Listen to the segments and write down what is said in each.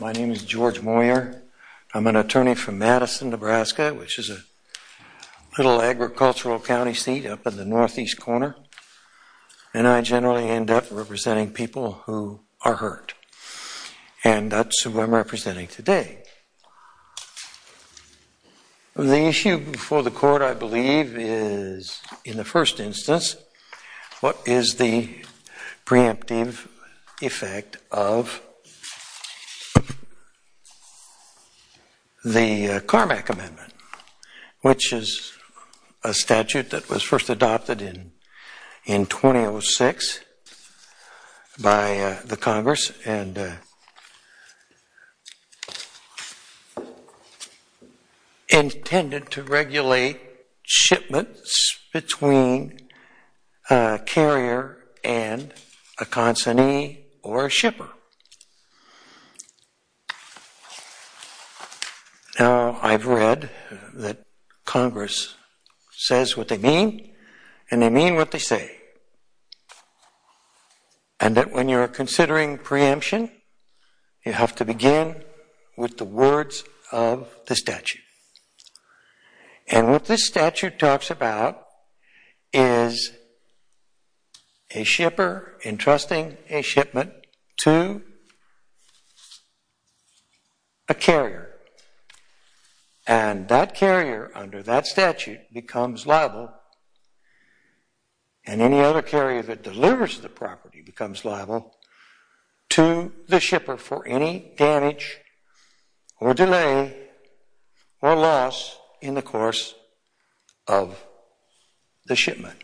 My name is George Moyer. I'm an attorney from Madison, Nebraska, which is a little agricultural county seat up in the northeast corner. And I generally end up representing people who are hurt. And that's who I'm representing today. The issue before the court, I believe, is, in the first instance, what is the preemptive effect of the Carmack Amendment, which is a statute that was first adopted in 2006 by the Congress and intended to regulate shipments between a carrier and a consignee or a shipper? Now, I've read that Congress says what they mean, and they mean what they say. And that when you're considering preemption, you have to begin with the words of the statute. And what this statute talks about is a shipper entrusting a shipment to a carrier. And that carrier, under that statute, becomes liable. And any other carrier that delivers the property becomes liable to the shipper for any damage or delay or loss in the course of the shipment.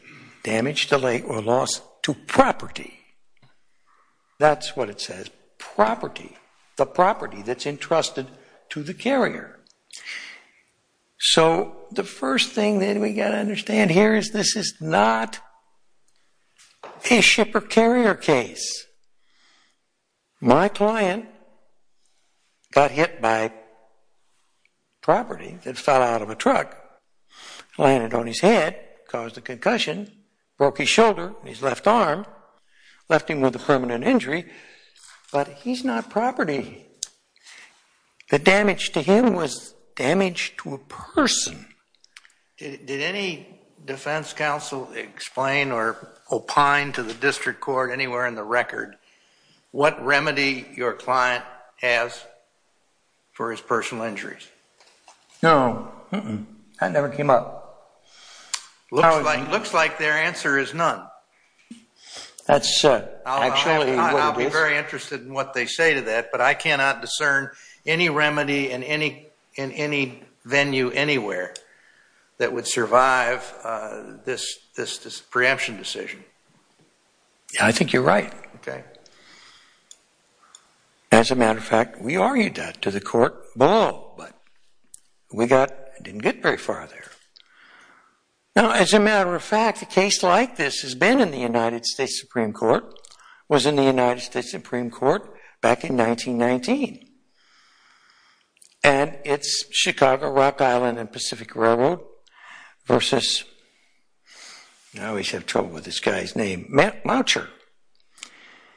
Damage, delay, or loss to property. That's what it says, property. The property that's entrusted to the carrier. So the first thing that we got to understand here is this is not a shipper-carrier case. My client got hit by property that fell out of a truck, landed on his head, caused a concussion, broke his shoulder, his left arm, left him with a permanent injury. But he's not property. The damage to him was damage to a person. Did any defense counsel explain or opine to the district court anywhere in the record what remedy your client has for his personal injuries? No. That never came up. Looks like their answer is none. That's actually what it is. I'll be very interested in what they say to that. But I cannot discern any remedy in any venue anywhere that would survive this preemption decision. Yeah, I think you're right. As a matter of fact, we argued that to the court below. But we didn't get very far there. Now, as a matter of fact, a case like this has been in the United States Supreme Court, was in the United States Supreme Court back in 1919. And it's Chicago, Rock Island, and Pacific Railroad versus, I always have trouble with this guy's name, Moucher.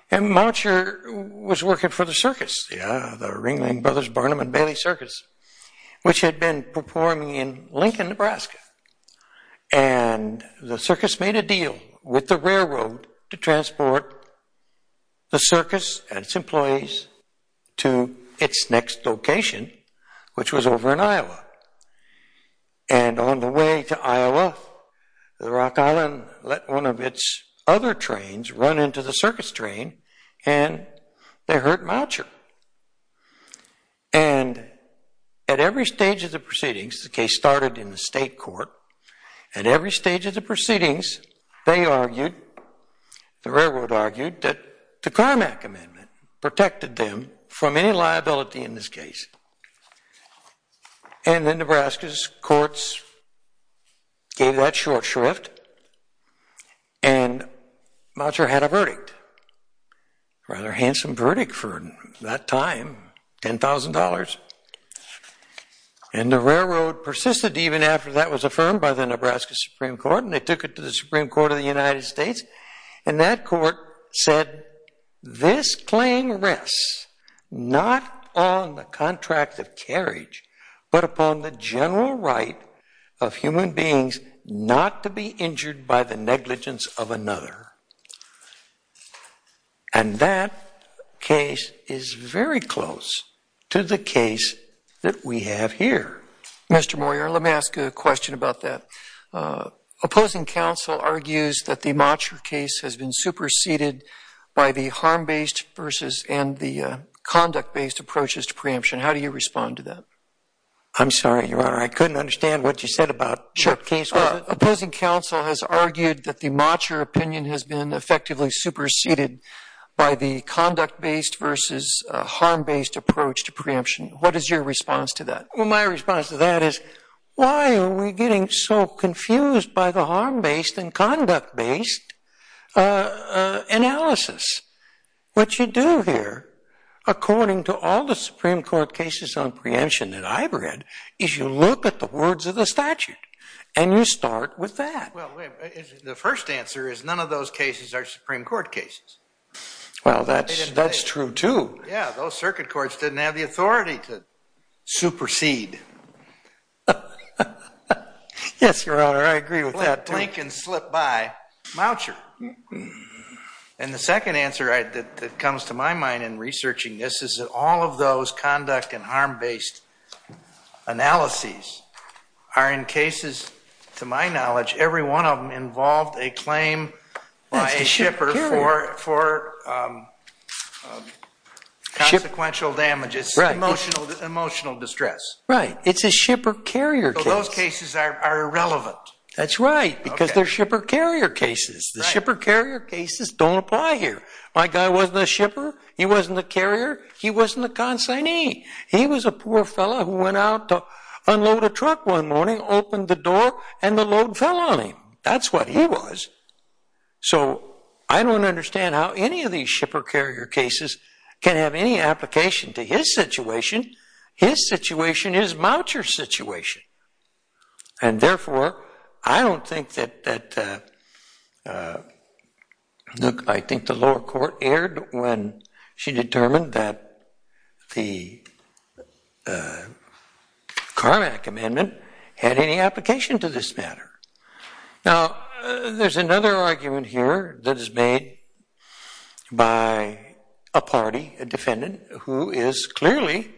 And Moucher was working for the circus, the Ringling Brothers Barnum and Bailey Circus, which had been performing in Lincoln, Nebraska. And the circus made a deal with the railroad to transport the circus and its employees to its next location, which was over in Iowa. And on the way to Iowa, the Rock Island let one of its other trains run into the circus train. And they hurt Moucher. And at every stage of the proceedings, the case started in the state court. At every stage of the proceedings, they argued, the railroad argued, that the Carmack Amendment protected them from any liability in this case. And then Nebraska's courts gave that short shrift. And Moucher had a verdict, a rather handsome verdict for that time, $10,000. And the railroad persisted even after that was affirmed by the Nebraska Supreme Court. And they took it to the Supreme Court of the United States. And that court said, this claim rests not on the contract of carriage, but upon the general right of human beings not to be injured by the negligence of another. And that case is very close to the case that we have here. Mr. Moyer, let me ask a question about that. Opposing counsel argues that the Moucher case has been superseded by the harm-based versus and the conduct-based approaches to preemption. How do you respond to that? I'm sorry, Your Honor. I couldn't understand what you said about what case was it. Opposing counsel has argued that the Moucher opinion has been effectively superseded by the conduct-based versus harm-based approach to preemption. What is your response to that? Well, my response to that is, why are we getting so confused by the harm-based and conduct-based analysis? What you do here, according to all the Supreme Court cases on preemption that I've read, is you look at the words of the statute. And you start with that. Well, the first answer is none of those cases are Supreme Court cases. Well, that's true, too. Yeah, those circuit courts didn't have the authority to supersede. Yes, Your Honor, I agree with that, too. Blink and slip by Moucher. And the second answer that comes to my mind in researching this is that all of those conduct and harm-based analyses are in cases, to my knowledge, every one of them involved a claim by a shipper for consequential damages, emotional distress. Right. It's a shipper-carrier case. So those cases are irrelevant. That's right, because they're shipper-carrier cases. The shipper-carrier cases don't apply here. My guy wasn't a shipper. He wasn't a carrier. He wasn't a consignee. He was a poor fellow who went out to unload a truck one morning, opened the door, and the load fell on him. That's what he was. So I don't understand how any of these shipper-carrier cases can have any application to his situation. His situation is Moucher's situation. And therefore, I don't think that the lower court erred when she determined that the Carmack amendment had any application to this matter. Now, there's another argument here that is made by a party, a defendant, who is clearly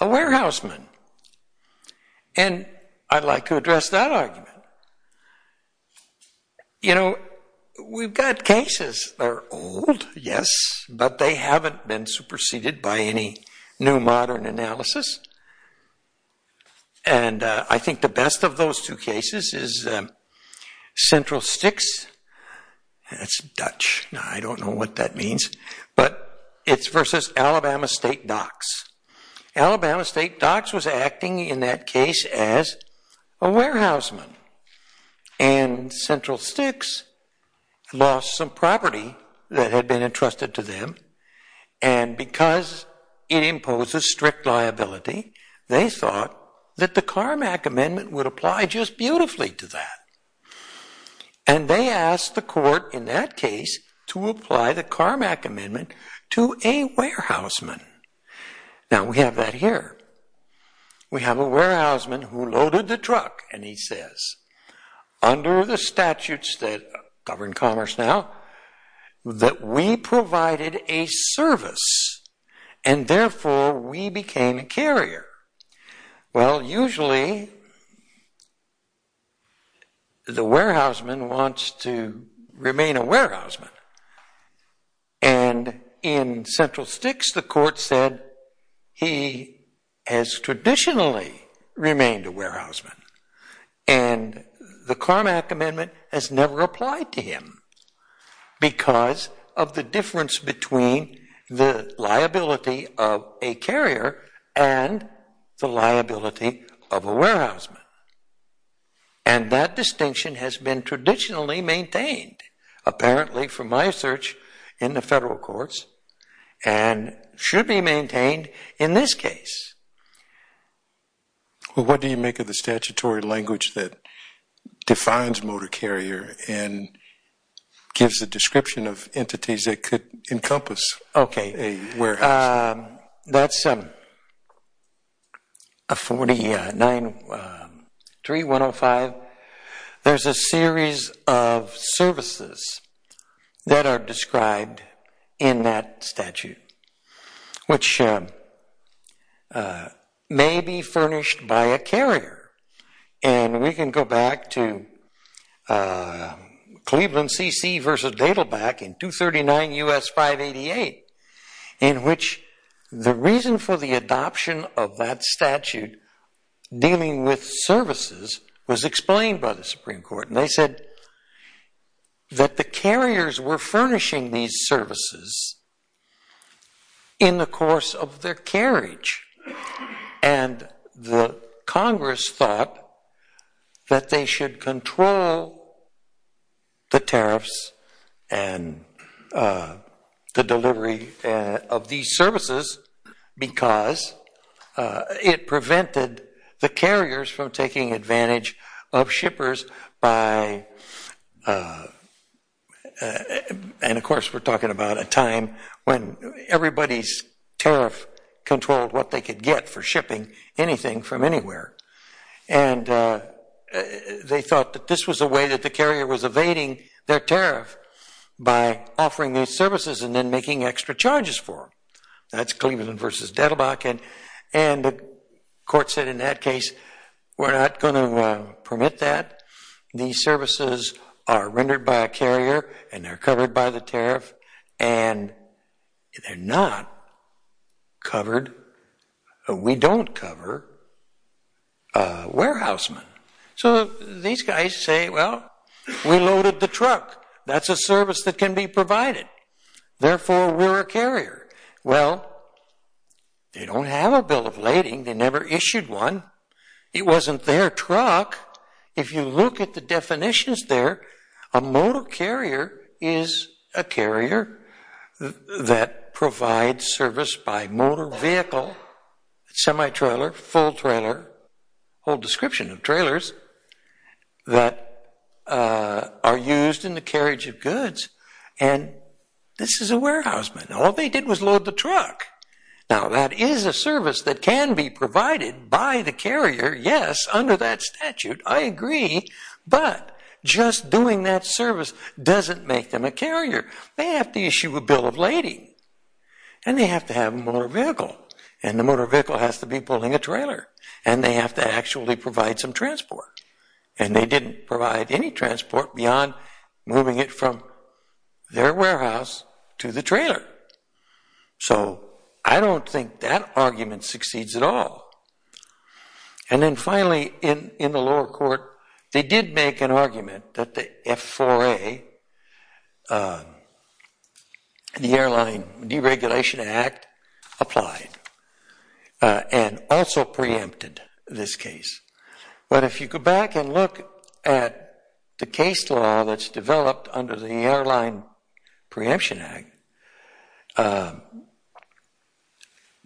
a warehouseman. And I'd like to address that argument. We've got cases that are old, yes, but they haven't been superseded by any new modern analysis. And I think the best of those two cases is Central Sticks, and it's Dutch. Now, I don't know what that means. But it's versus Alabama State Docs. Alabama State Docs was acting, in that case, as a warehouseman. And Central Sticks lost some property that had been entrusted to them. And because it imposes strict liability, they thought that the Carmack amendment would apply just beautifully to that. And they asked the court, in that case, to apply the Carmack amendment to a warehouseman. Now, we have that here. We have a warehouseman who loaded the truck. And he says, under the statutes that govern commerce now, that we provided a service. And therefore, we became a carrier. Well, usually, the warehouseman wants to remain a warehouseman. And in Central Sticks, the court said, he has traditionally remained a warehouseman. And the Carmack amendment has never applied to him because of the difference between the liability of a carrier and the liability of a warehouseman. And that distinction has been traditionally maintained, apparently, from my search in the federal courts, and should be maintained in this case. Well, what do you make of the statutory language that defines motor carrier and gives a description of entities that could encompass a warehouse? That's a 49.3105. There's a series of services that are described in that statute, which may be furnished by a carrier. And we can go back to Cleveland CC versus Dadelback in 239 US 588, in which the reason for the adoption of that statute dealing with services was explained by the Supreme Court. And they said that the carriers were furnishing these services in the course of their carriage. And the Congress thought that they should control the tariffs and the delivery of these services because it prevented the carriers from taking advantage of shippers by, and of course, we're talking about a time when everybody's tariff controlled what they could get for shipping anything from anywhere. And they thought that this was a way that the carrier was evading their tariff by offering these services and then making extra charges for them. That's Cleveland versus Dadelback. And the court said in that case, we're not going to permit that. These services are rendered by a carrier and they're covered by the tariff. And they're not covered, or we don't cover, warehousemen. So these guys say, well, we loaded the truck. That's a service that can be provided. Therefore, we're a carrier. Well, they don't have a bill of lading. They never issued one. It wasn't their truck. If you look at the definitions there, a motor carrier is a carrier that provides service by motor vehicle, semi-trailer, full trailer, whole description of trailers that are used in the carriage of goods. And this is a warehouseman. All they did was load the truck. Now, that is a service that can be provided by the carrier. Yes, under that statute, I agree. But just doing that service doesn't make them a carrier. They have to issue a bill of lading. And they have to have a motor vehicle. And the motor vehicle has to be pulling a trailer. And they have to actually provide some transport. And they didn't provide any transport beyond moving it from their warehouse to the trailer. So I don't think that argument succeeds at all. And then finally, in the lower court, they did make an argument that the F4A, the Airline Deregulation Act, applied and also preempted this case. But if you go back and look at the case law that's developed under the Airline Preemption Act,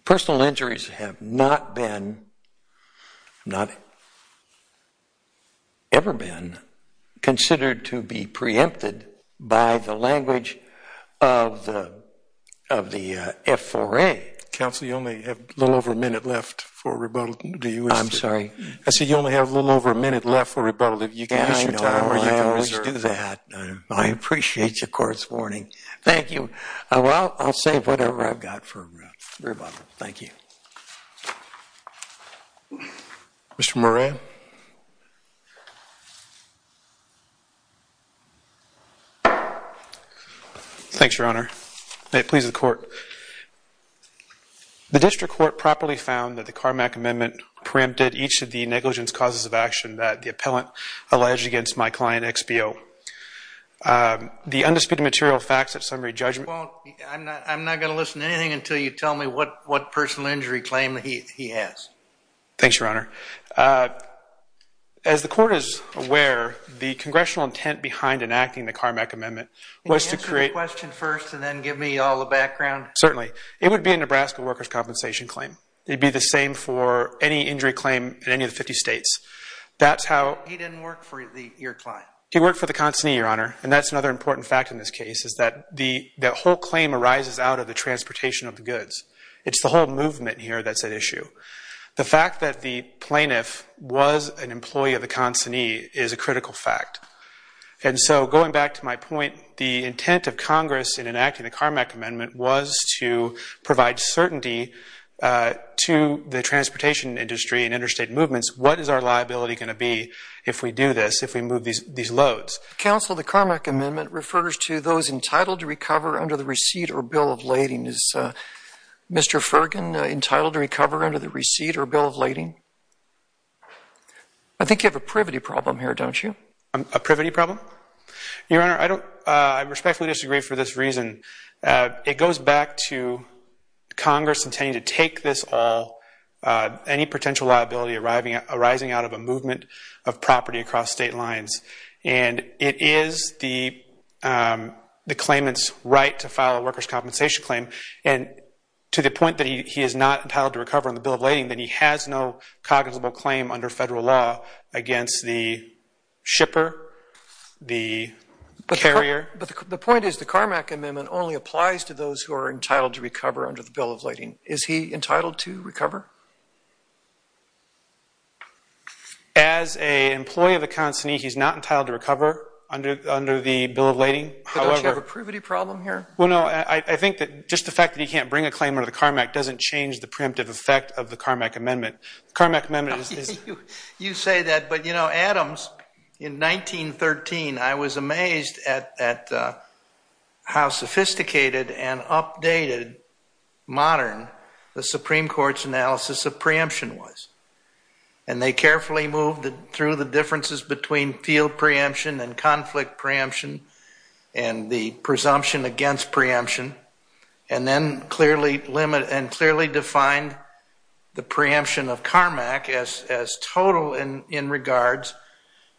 personal injuries have not been, not ever been, considered to be preempted by the language of the F4A. Counsel, you only have a little over a minute left for rebuttal. Do you wish to? I'm sorry. I said you only have a little over a minute left for rebuttal. If you can use your time, or you can reserve it. I always do that. I appreciate the court's warning. Thank you. Well, I'll say whatever I've got for rebuttal. Thank you. Mr. Moran? Thanks, Your Honor. May it please the court. The district court properly found that the Carmack Amendment preempted each of the negligence causes of action that the appellant alleged against my client, XBO. The undisputed material facts of summary judgment. Well, I'm not going to listen to anything until you tell me what personal injury claim he has. Thanks, Your Honor. As the court is aware, the F4A is the congressional intent behind enacting the Carmack Amendment was to create. Can you answer the question first, and then give me all the background? Certainly. It would be a Nebraska workers' compensation claim. It'd be the same for any injury claim in any of the 50 states. That's how. He didn't work for your client. He worked for the consignee, Your Honor. And that's another important fact in this case, is that the whole claim arises out of the transportation of the goods. It's the whole movement here that's at issue. The fact that the plaintiff was an employee of the consignee is a critical fact. And so going back to my point, the intent of Congress in enacting the Carmack Amendment was to provide certainty to the transportation industry and interstate movements. What is our liability going to be if we do this, if we move these loads? Counsel, the Carmack Amendment refers to those entitled to recover under the receipt or bill of lading. Is Mr. Fergin entitled to recover under the receipt or bill of lading? I think you have a privity problem here, don't you? A privity problem? Your Honor, I respectfully disagree for this reason. It goes back to Congress intending to take this all, any potential liability arising out of a movement of property across state lines. And it is the claimant's right to file a workers' compensation claim. And to the point that he is not entitled to recover under the bill of lading, then he has no cognitive claim under federal law against the shipper, the carrier. But the point is the Carmack Amendment only applies to those who are entitled to recover under the bill of lading. Is he entitled to recover? As a employee of the consignee, he's not entitled to recover under the bill of lading. But don't you have a privity problem here? Well, no, I think that just the fact that he can't bring a claim under the Carmack doesn't change the preemptive effect of the Carmack Amendment. The Carmack Amendment is this. You say that, but you know, Adams, in 1913, I was amazed at how sophisticated and updated, modern, the Supreme Court's analysis of preemption was. And they carefully moved through the differences between field preemption and conflict preemption and the presumption against preemption, and then clearly defined the preemption of Carmack as total in regards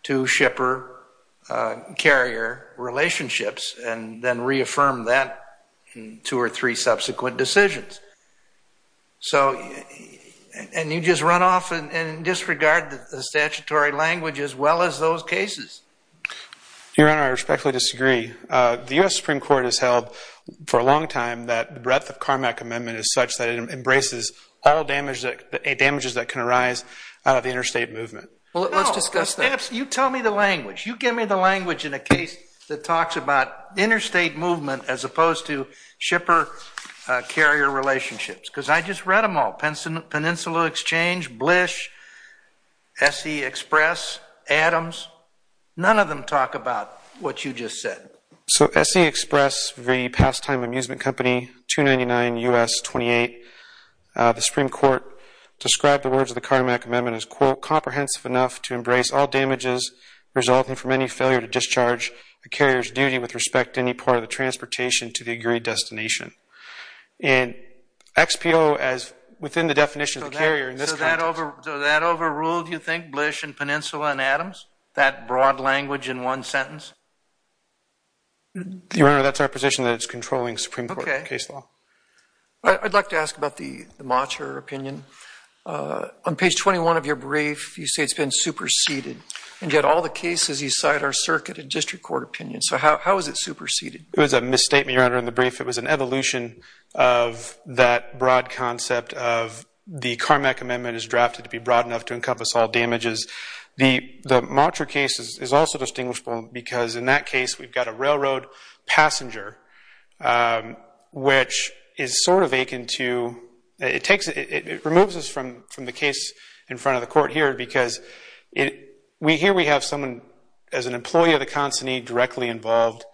to shipper-carrier relationships, and then reaffirmed that in two or three subsequent decisions. So and you just run off and disregard the statutory language as well as those cases. Your Honor, I respectfully disagree. The US Supreme Court has held for a long time that the breadth of Carmack Amendment is such that it embraces all damages that can arise out of the interstate movement. Well, let's discuss that. You tell me the language. You give me the language in a case that talks about interstate movement as opposed to shipper-carrier relationships. Because I just read them all, Peninsula Exchange, Blish, SE Express, Adams. None of them talk about what you just said. So SE Express v. Pastime Amusement Company, 299 U.S. 28. The Supreme Court described the words of the Carmack Amendment as, quote, comprehensive enough to embrace all damages resulting from any failure to discharge the carrier's duty with respect to any part of the transportation to the agreed destination. And XPO, as within the definition of the carrier in this context. So that overruled, you think, Blish and Peninsula and Adams? That broad language in one sentence? Your Honor, that's our position that it's controlling Supreme Court case law. I'd like to ask about the Macher opinion. On page 21 of your brief, you say it's been superseded. And yet all the cases you cite are circuit and district court opinions. So how is it superseded? It was a misstatement, Your Honor, in the brief. It was an evolution of that broad concept of the Carmack Amendment is drafted to be broad enough to encompass all damages. The Macher case is also distinguishable because in that case, we've got a railroad passenger, which is sort of akin to, it removes us from the case in front of the court here because here we have someone as an employee of the consignee directly involved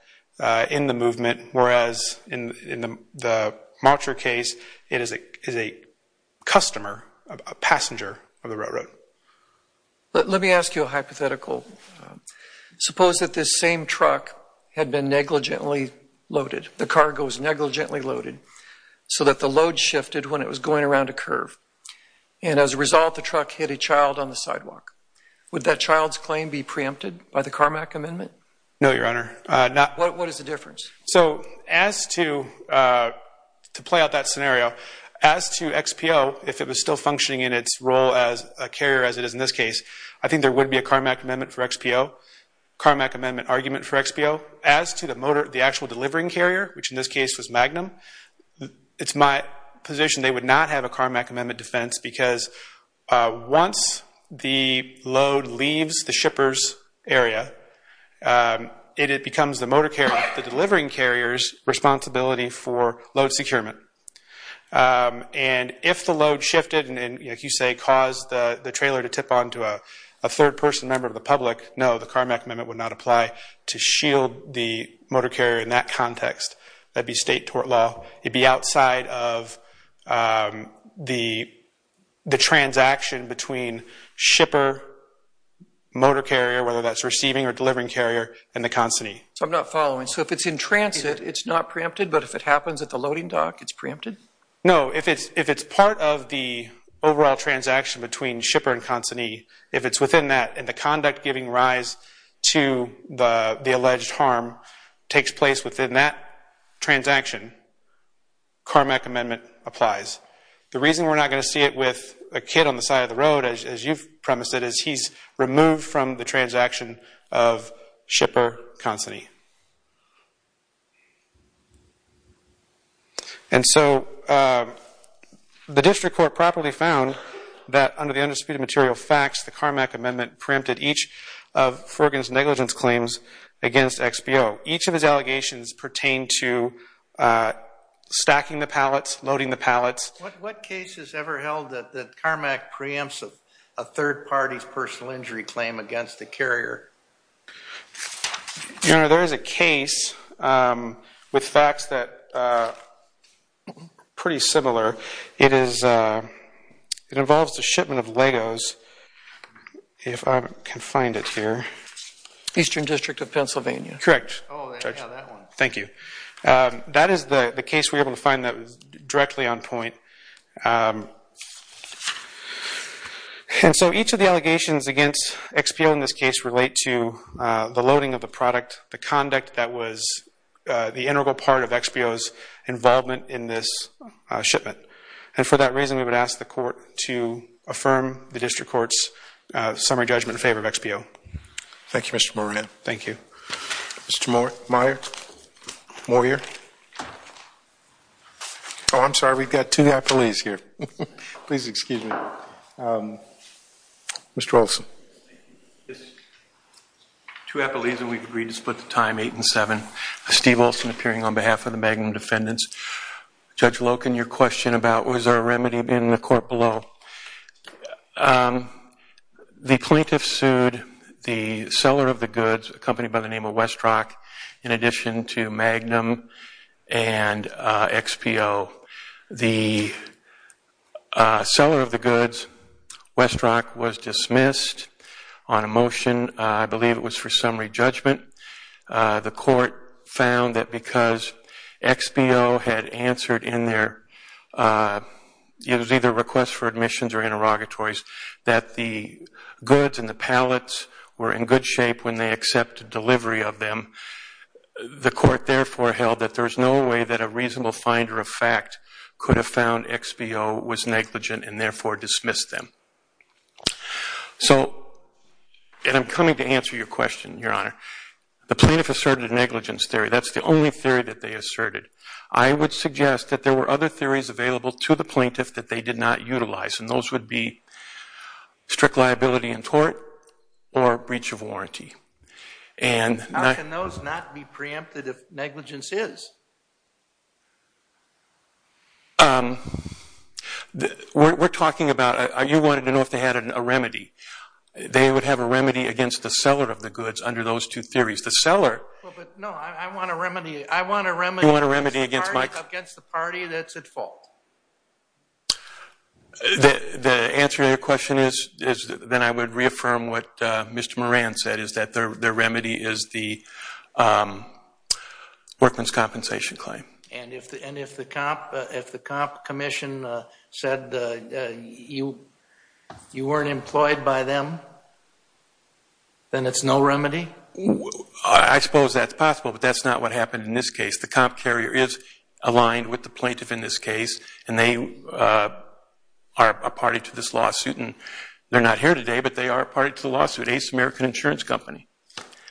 in the movement. Whereas in the Macher case, it is a customer, a passenger of the railroad. Let me ask you a hypothetical. Suppose that this same truck had been negligently loaded, the cargo was negligently loaded, so that the load shifted when it was going around a curve. And as a result, the truck hit a child on the sidewalk. Would that child's claim be preempted by the Carmack Amendment? No, Your Honor. What is the difference? So as to play out that scenario, as to XPO, if it was still functioning in its role as a carrier as it is in this case, I think there would be a Carmack Amendment for XPO, Carmack Amendment argument for XPO. As to the actual delivering carrier, which in this case was Magnum, it's my position they would not have a Carmack Amendment defense because once the load leaves the shipper's area, it becomes the delivering carrier's responsibility for load securement. And if the load shifted and, like you say, caused the trailer to tip onto a third person member of the public, no, the Carmack Amendment would not apply to shield the motor carrier in that context. That'd be state tort law. It'd be outside of the transaction between shipper, motor carrier, whether that's receiving or delivering carrier, and the consignee. So I'm not following. So if it's in transit, it's not preempted. But if it happens at the loading dock, it's preempted? No, if it's part of the overall transaction between shipper and consignee, if it's within that, and the conduct giving rise to the alleged harm takes place within that transaction, Carmack Amendment applies. The reason we're not going to see it with a kid on the side of the road, as you've premised it, is he's removed from the transaction of shipper, consignee. And so the district court properly found that under the undisputed material facts, the Carmack Amendment preempted each of Fergan's negligence claims against XBO. Each of his allegations pertain to stacking the pallets, loading the pallets. What case has ever held that Carmack preempts a third party's personal injury claim against the carrier? Your Honor, there is a case with facts that are pretty similar. It involves the shipment of LEGOs, if I can find it here. Eastern District of Pennsylvania. Correct. Oh, yeah, that one. Thank you. That is the case we were able to find that was directly on point. And so each of the allegations against XBO in this case relate to the loading of the product, the conduct that was the integral part of XBO's involvement in this shipment. And for that reason, we would ask the court to affirm the district court's summary judgment in favor of XBO. Thank you, Mr. Moran. Thank you. Mr. Moyer? Moyer? Oh, I'm sorry. We've got two police here. Please excuse me. Mr. Olson. Thank you. Two appellees, and we've agreed to split the time 8 and 7. Steve Olson appearing on behalf of the Magnum defendants. Judge Loken, your question about was there a remedy in the court below? The plaintiff sued the seller of the goods, a company by the name of Westrock, in addition to Magnum and XBO. The seller of the goods, Westrock, was dismissed on a motion. I believe it was for summary judgment. The court found that because XBO had answered in their either request for admissions or interrogatories that the goods and the pallets were in good shape when they accepted delivery of them, the court therefore held that there's no way that a reasonable finder of fact could have found XBO was negligent and therefore dismissed them. So, and I'm coming to answer your question, Your Honor. The plaintiff asserted negligence theory. That's the only theory that they asserted. I would suggest that there were other theories available to the plaintiff that they did not utilize, and those would be strict liability in court or breach of warranty. And not- How can those not be preempted if negligence is? We're talking about, you wanted to know if they had a remedy. They would have a remedy against the seller of the goods under those two theories. The seller- Well, but no, I want a remedy. I want a remedy against the party that's at fault. The answer to your question is then I would reaffirm what Mr. Moran said, is that their remedy is the workman's compensation claim. And if the comp commission said you weren't employed by them, then it's no remedy? I suppose that's possible, but that's not what happened in this case. The comp carrier is aligned with the plaintiff in this case, and they are a party to this lawsuit. And they're not here today, but they are a party to the lawsuit, Ace American Insurance Company.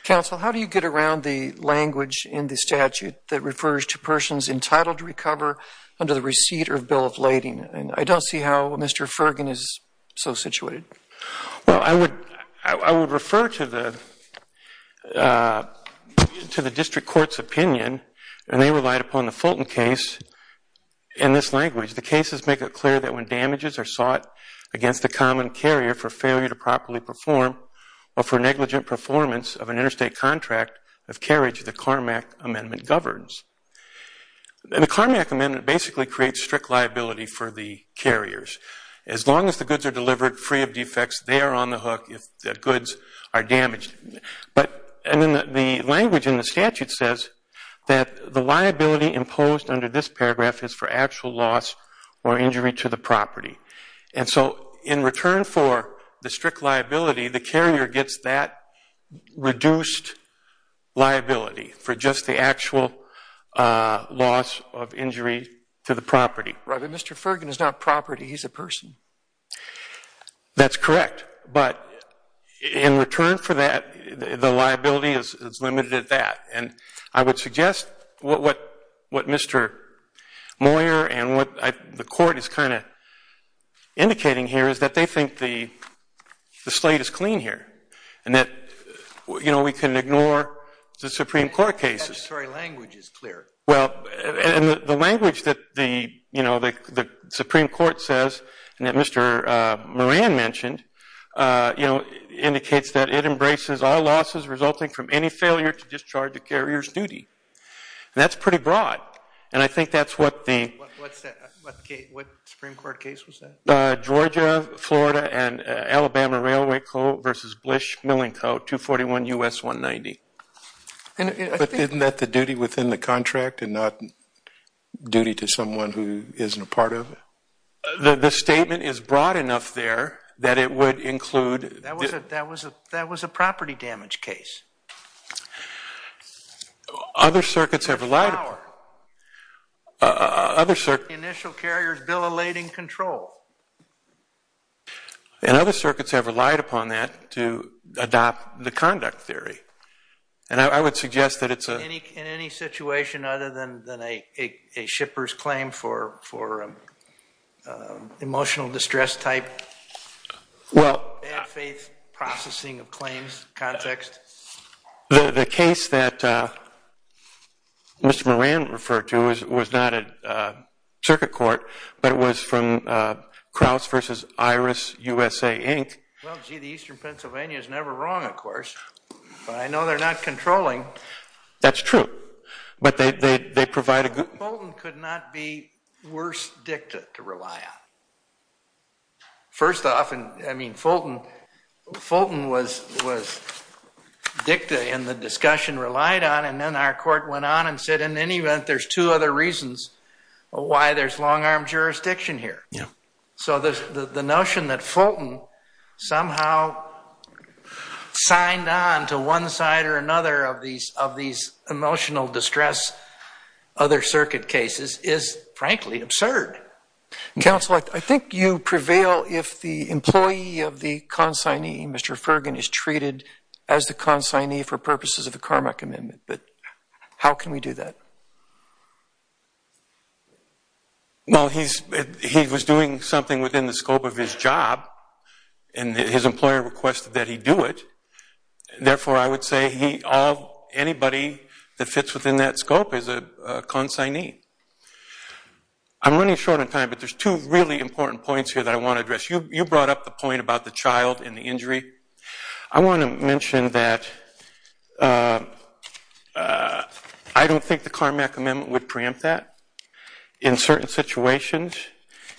Counsel, how do you get around the language in the statute that refers to persons entitled to recover under the receipt or bill of lading? And I don't see how Mr. Fergan is so situated. Well, I would refer to the district court's opinion, and they relied upon the Fulton case in this language. The cases make it clear that when damages are sought against a common carrier for failure to properly perform or for negligent performance of an interstate contract of carriage, the Carmack Amendment governs. And the Carmack Amendment basically creates strict liability for the carriers. As long as the goods are delivered free of defects, they are on the hook if the goods are damaged. And then the language in the statute says that the liability imposed under this paragraph is for actual loss or injury to the property. And so in return for the strict liability, the carrier gets that reduced liability for just the actual loss of injury to the property. Right, but Mr. Fergan is not property. He's a person. That's correct. But in return for that, the liability is limited at that. And I would suggest what Mr. Moyer and what the court is kind of indicating here is that they think the slate is clean here. And that we can ignore the Supreme Court cases. The statutory language is clear. Well, and the language that the Supreme Court says and that Mr. Moran mentioned indicates that it embraces all losses resulting from any failure to discharge the carrier's duty. That's pretty broad. And I think that's what the. What Supreme Court case was that? Georgia, Florida, and Alabama Railway Co. versus Blish Milling Co. 241 US 190. And isn't that the duty within the contract and not duty to someone who isn't a part of it? The statement is broad enough there that it would include. That was a property damage case. Other circuits have relied. Power. Other circuits. Initial carrier's bill of lading control. And other circuits have relied upon that to adopt the conduct theory. And I would suggest that it's a. In any situation other than a shipper's claim for emotional distress type. Well. Bad faith processing of claims context. The case that Mr. Moran referred to was not a circuit court. But it was from Krauss versus Iris USA, Inc. Well, gee, the Eastern Pennsylvania is never wrong, of course. But I know they're not controlling. That's true. But they provide a good. Fulton could not be worse dicta to rely on. First off, and I mean Fulton. Fulton was dicta and the discussion relied on. And then our court went on and said, in any event, there's two other reasons why there's long arm jurisdiction here. So the notion that Fulton somehow signed on to one side or another of these emotional distress other circuit cases is, frankly, absurd. Counsel, I think you prevail if the employee of the consignee, Mr. Fergin, is treated as the consignee for purposes of the Carmack Amendment. But how can we do that? Well, he was doing something within the scope of his job. And his employer requested that he do it. Therefore, I would say anybody that fits within that scope is a consignee. I'm running short on time, but there's two really important points here that I want to address. You brought up the point about the child and the injury. I want to mention that I don't think the Carmack Amendment would preempt that in certain situations.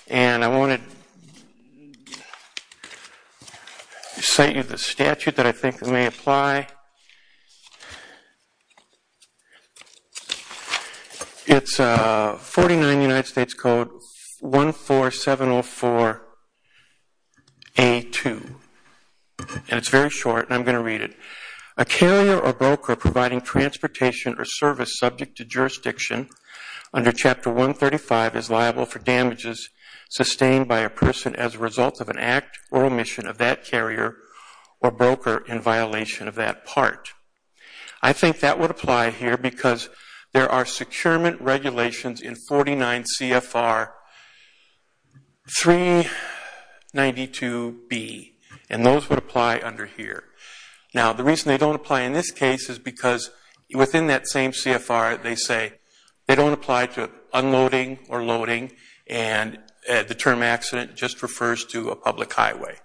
And I want to cite you the statute that I think may apply. It's 49 United States Code, 14704A2, and it's very short. And I'm going to read it. A carrier or broker providing transportation or service subject to jurisdiction under Chapter 135 is liable for damages sustained by a person as a result of an act or omission of that carrier or broker in violation of that act. That part, I think that would apply here because there are securement regulations in 49 CFR 392B. And those would apply under here. Now, the reason they don't apply in this case is because within that same CFR, they say they don't apply to unloading or loading. And the term accident just refers to a public highway.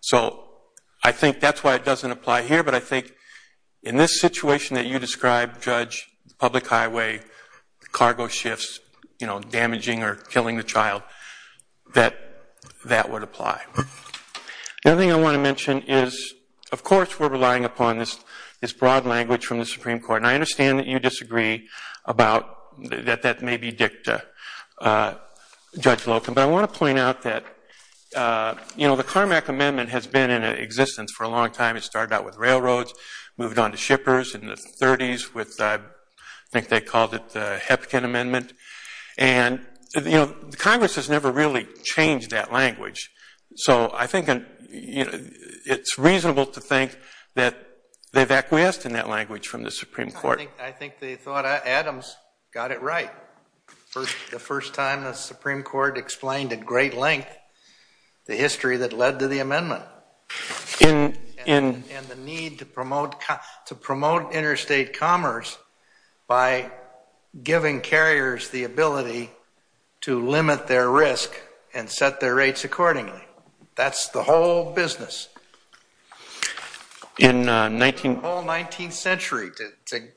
So I think that's why it doesn't apply here. But I think in this situation that you described, Judge, public highway, cargo shifts, damaging or killing the child, that that would apply. The other thing I want to mention is, of course, we're relying upon this broad language from the Supreme Court. And I understand that you disagree about that that may be dicta, Judge Locan. But I want to point out that the Carmack Amendment has been in existence for a long time. It started out with railroads, moved on to shippers in the 30s with, I think they called it the Hepkin Amendment. And Congress has never really changed that language. So I think it's reasonable to think that they've acquiesced in that language from the Supreme Court. I think they thought Adams got it right the first time the Supreme Court explained at great length the history that led to the amendment. And the need to promote interstate commerce by giving carriers the ability to limit their risk and set their rates accordingly. That's the whole business. In the whole 19th century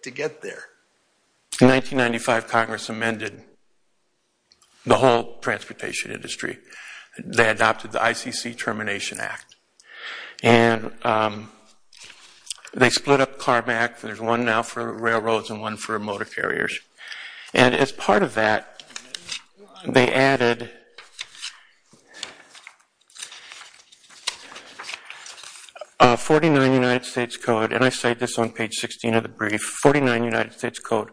to get there. In 1995, Congress amended the whole transportation industry. They adopted the ICC Termination Act. And they split up Carmack. There's one now for railroads and one for motor carriers. And as part of that, they added a 49 United States code. And I say this on page 16 of the brief. 49 United States code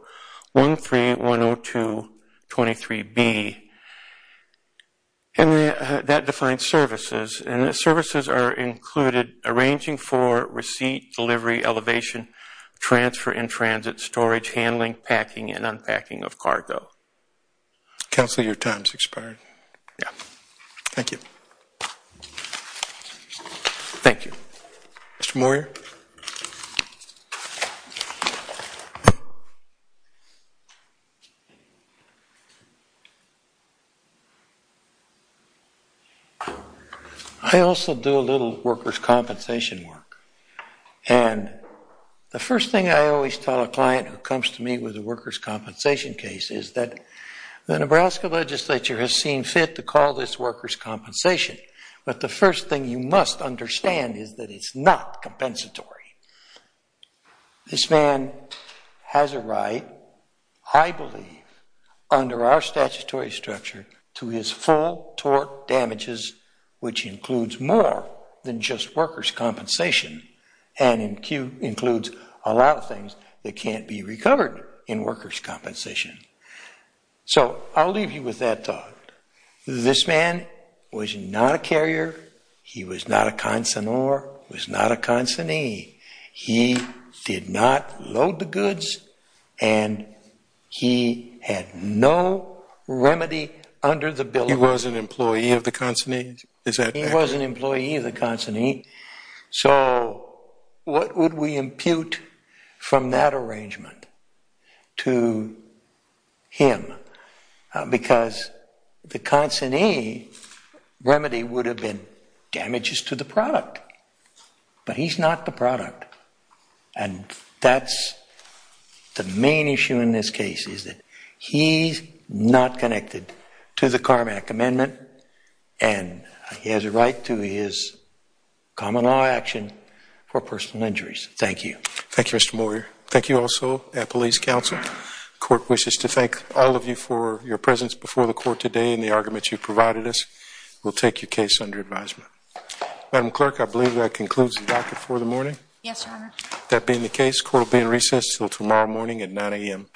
1310223B. And that defines services. And the services are included arranging for receipt, delivery, elevation, transfer, and transit, storage, handling, packing, and unpacking of cargo. Counselor, your time's expired. Yeah. Thank you. Thank you. Mr. Moyer. Thank you. I also do a little workers' compensation work. And the first thing I always tell a client who comes to me with a workers' compensation case is that the Nebraska legislature has seen fit to call this workers' compensation. But the first thing you must understand is that it's not compensatory. This man has a right, I believe, under our statutory structure to his full tort damages, which includes more than just workers' compensation and includes a lot of things that can't be recovered in workers' compensation. So I'll leave you with that thought. This man was not a carrier. He was not a consignor. He was not a consignee. He did not load the goods. And he had no remedy under the bill. He was an employee of the consignee? Is that correct? He was an employee of the consignee. So what would we impute from that arrangement to him? been damages to the product. But he's not the product. And that's the main issue in this case is that he's not connected to the Carmack Amendment. And he has a right to his common law action for personal injuries. Thank you. Thank you, Mr. Moyer. Thank you also at police counsel. Court wishes to thank all of you for your presence before the court today and the arguments you provided us. We'll take your case under advisement. Madam Clerk, I believe that concludes the docket for the morning. Yes, Your Honor. That being the case, court will be in recess until tomorrow morning at 9 AM. Thank you.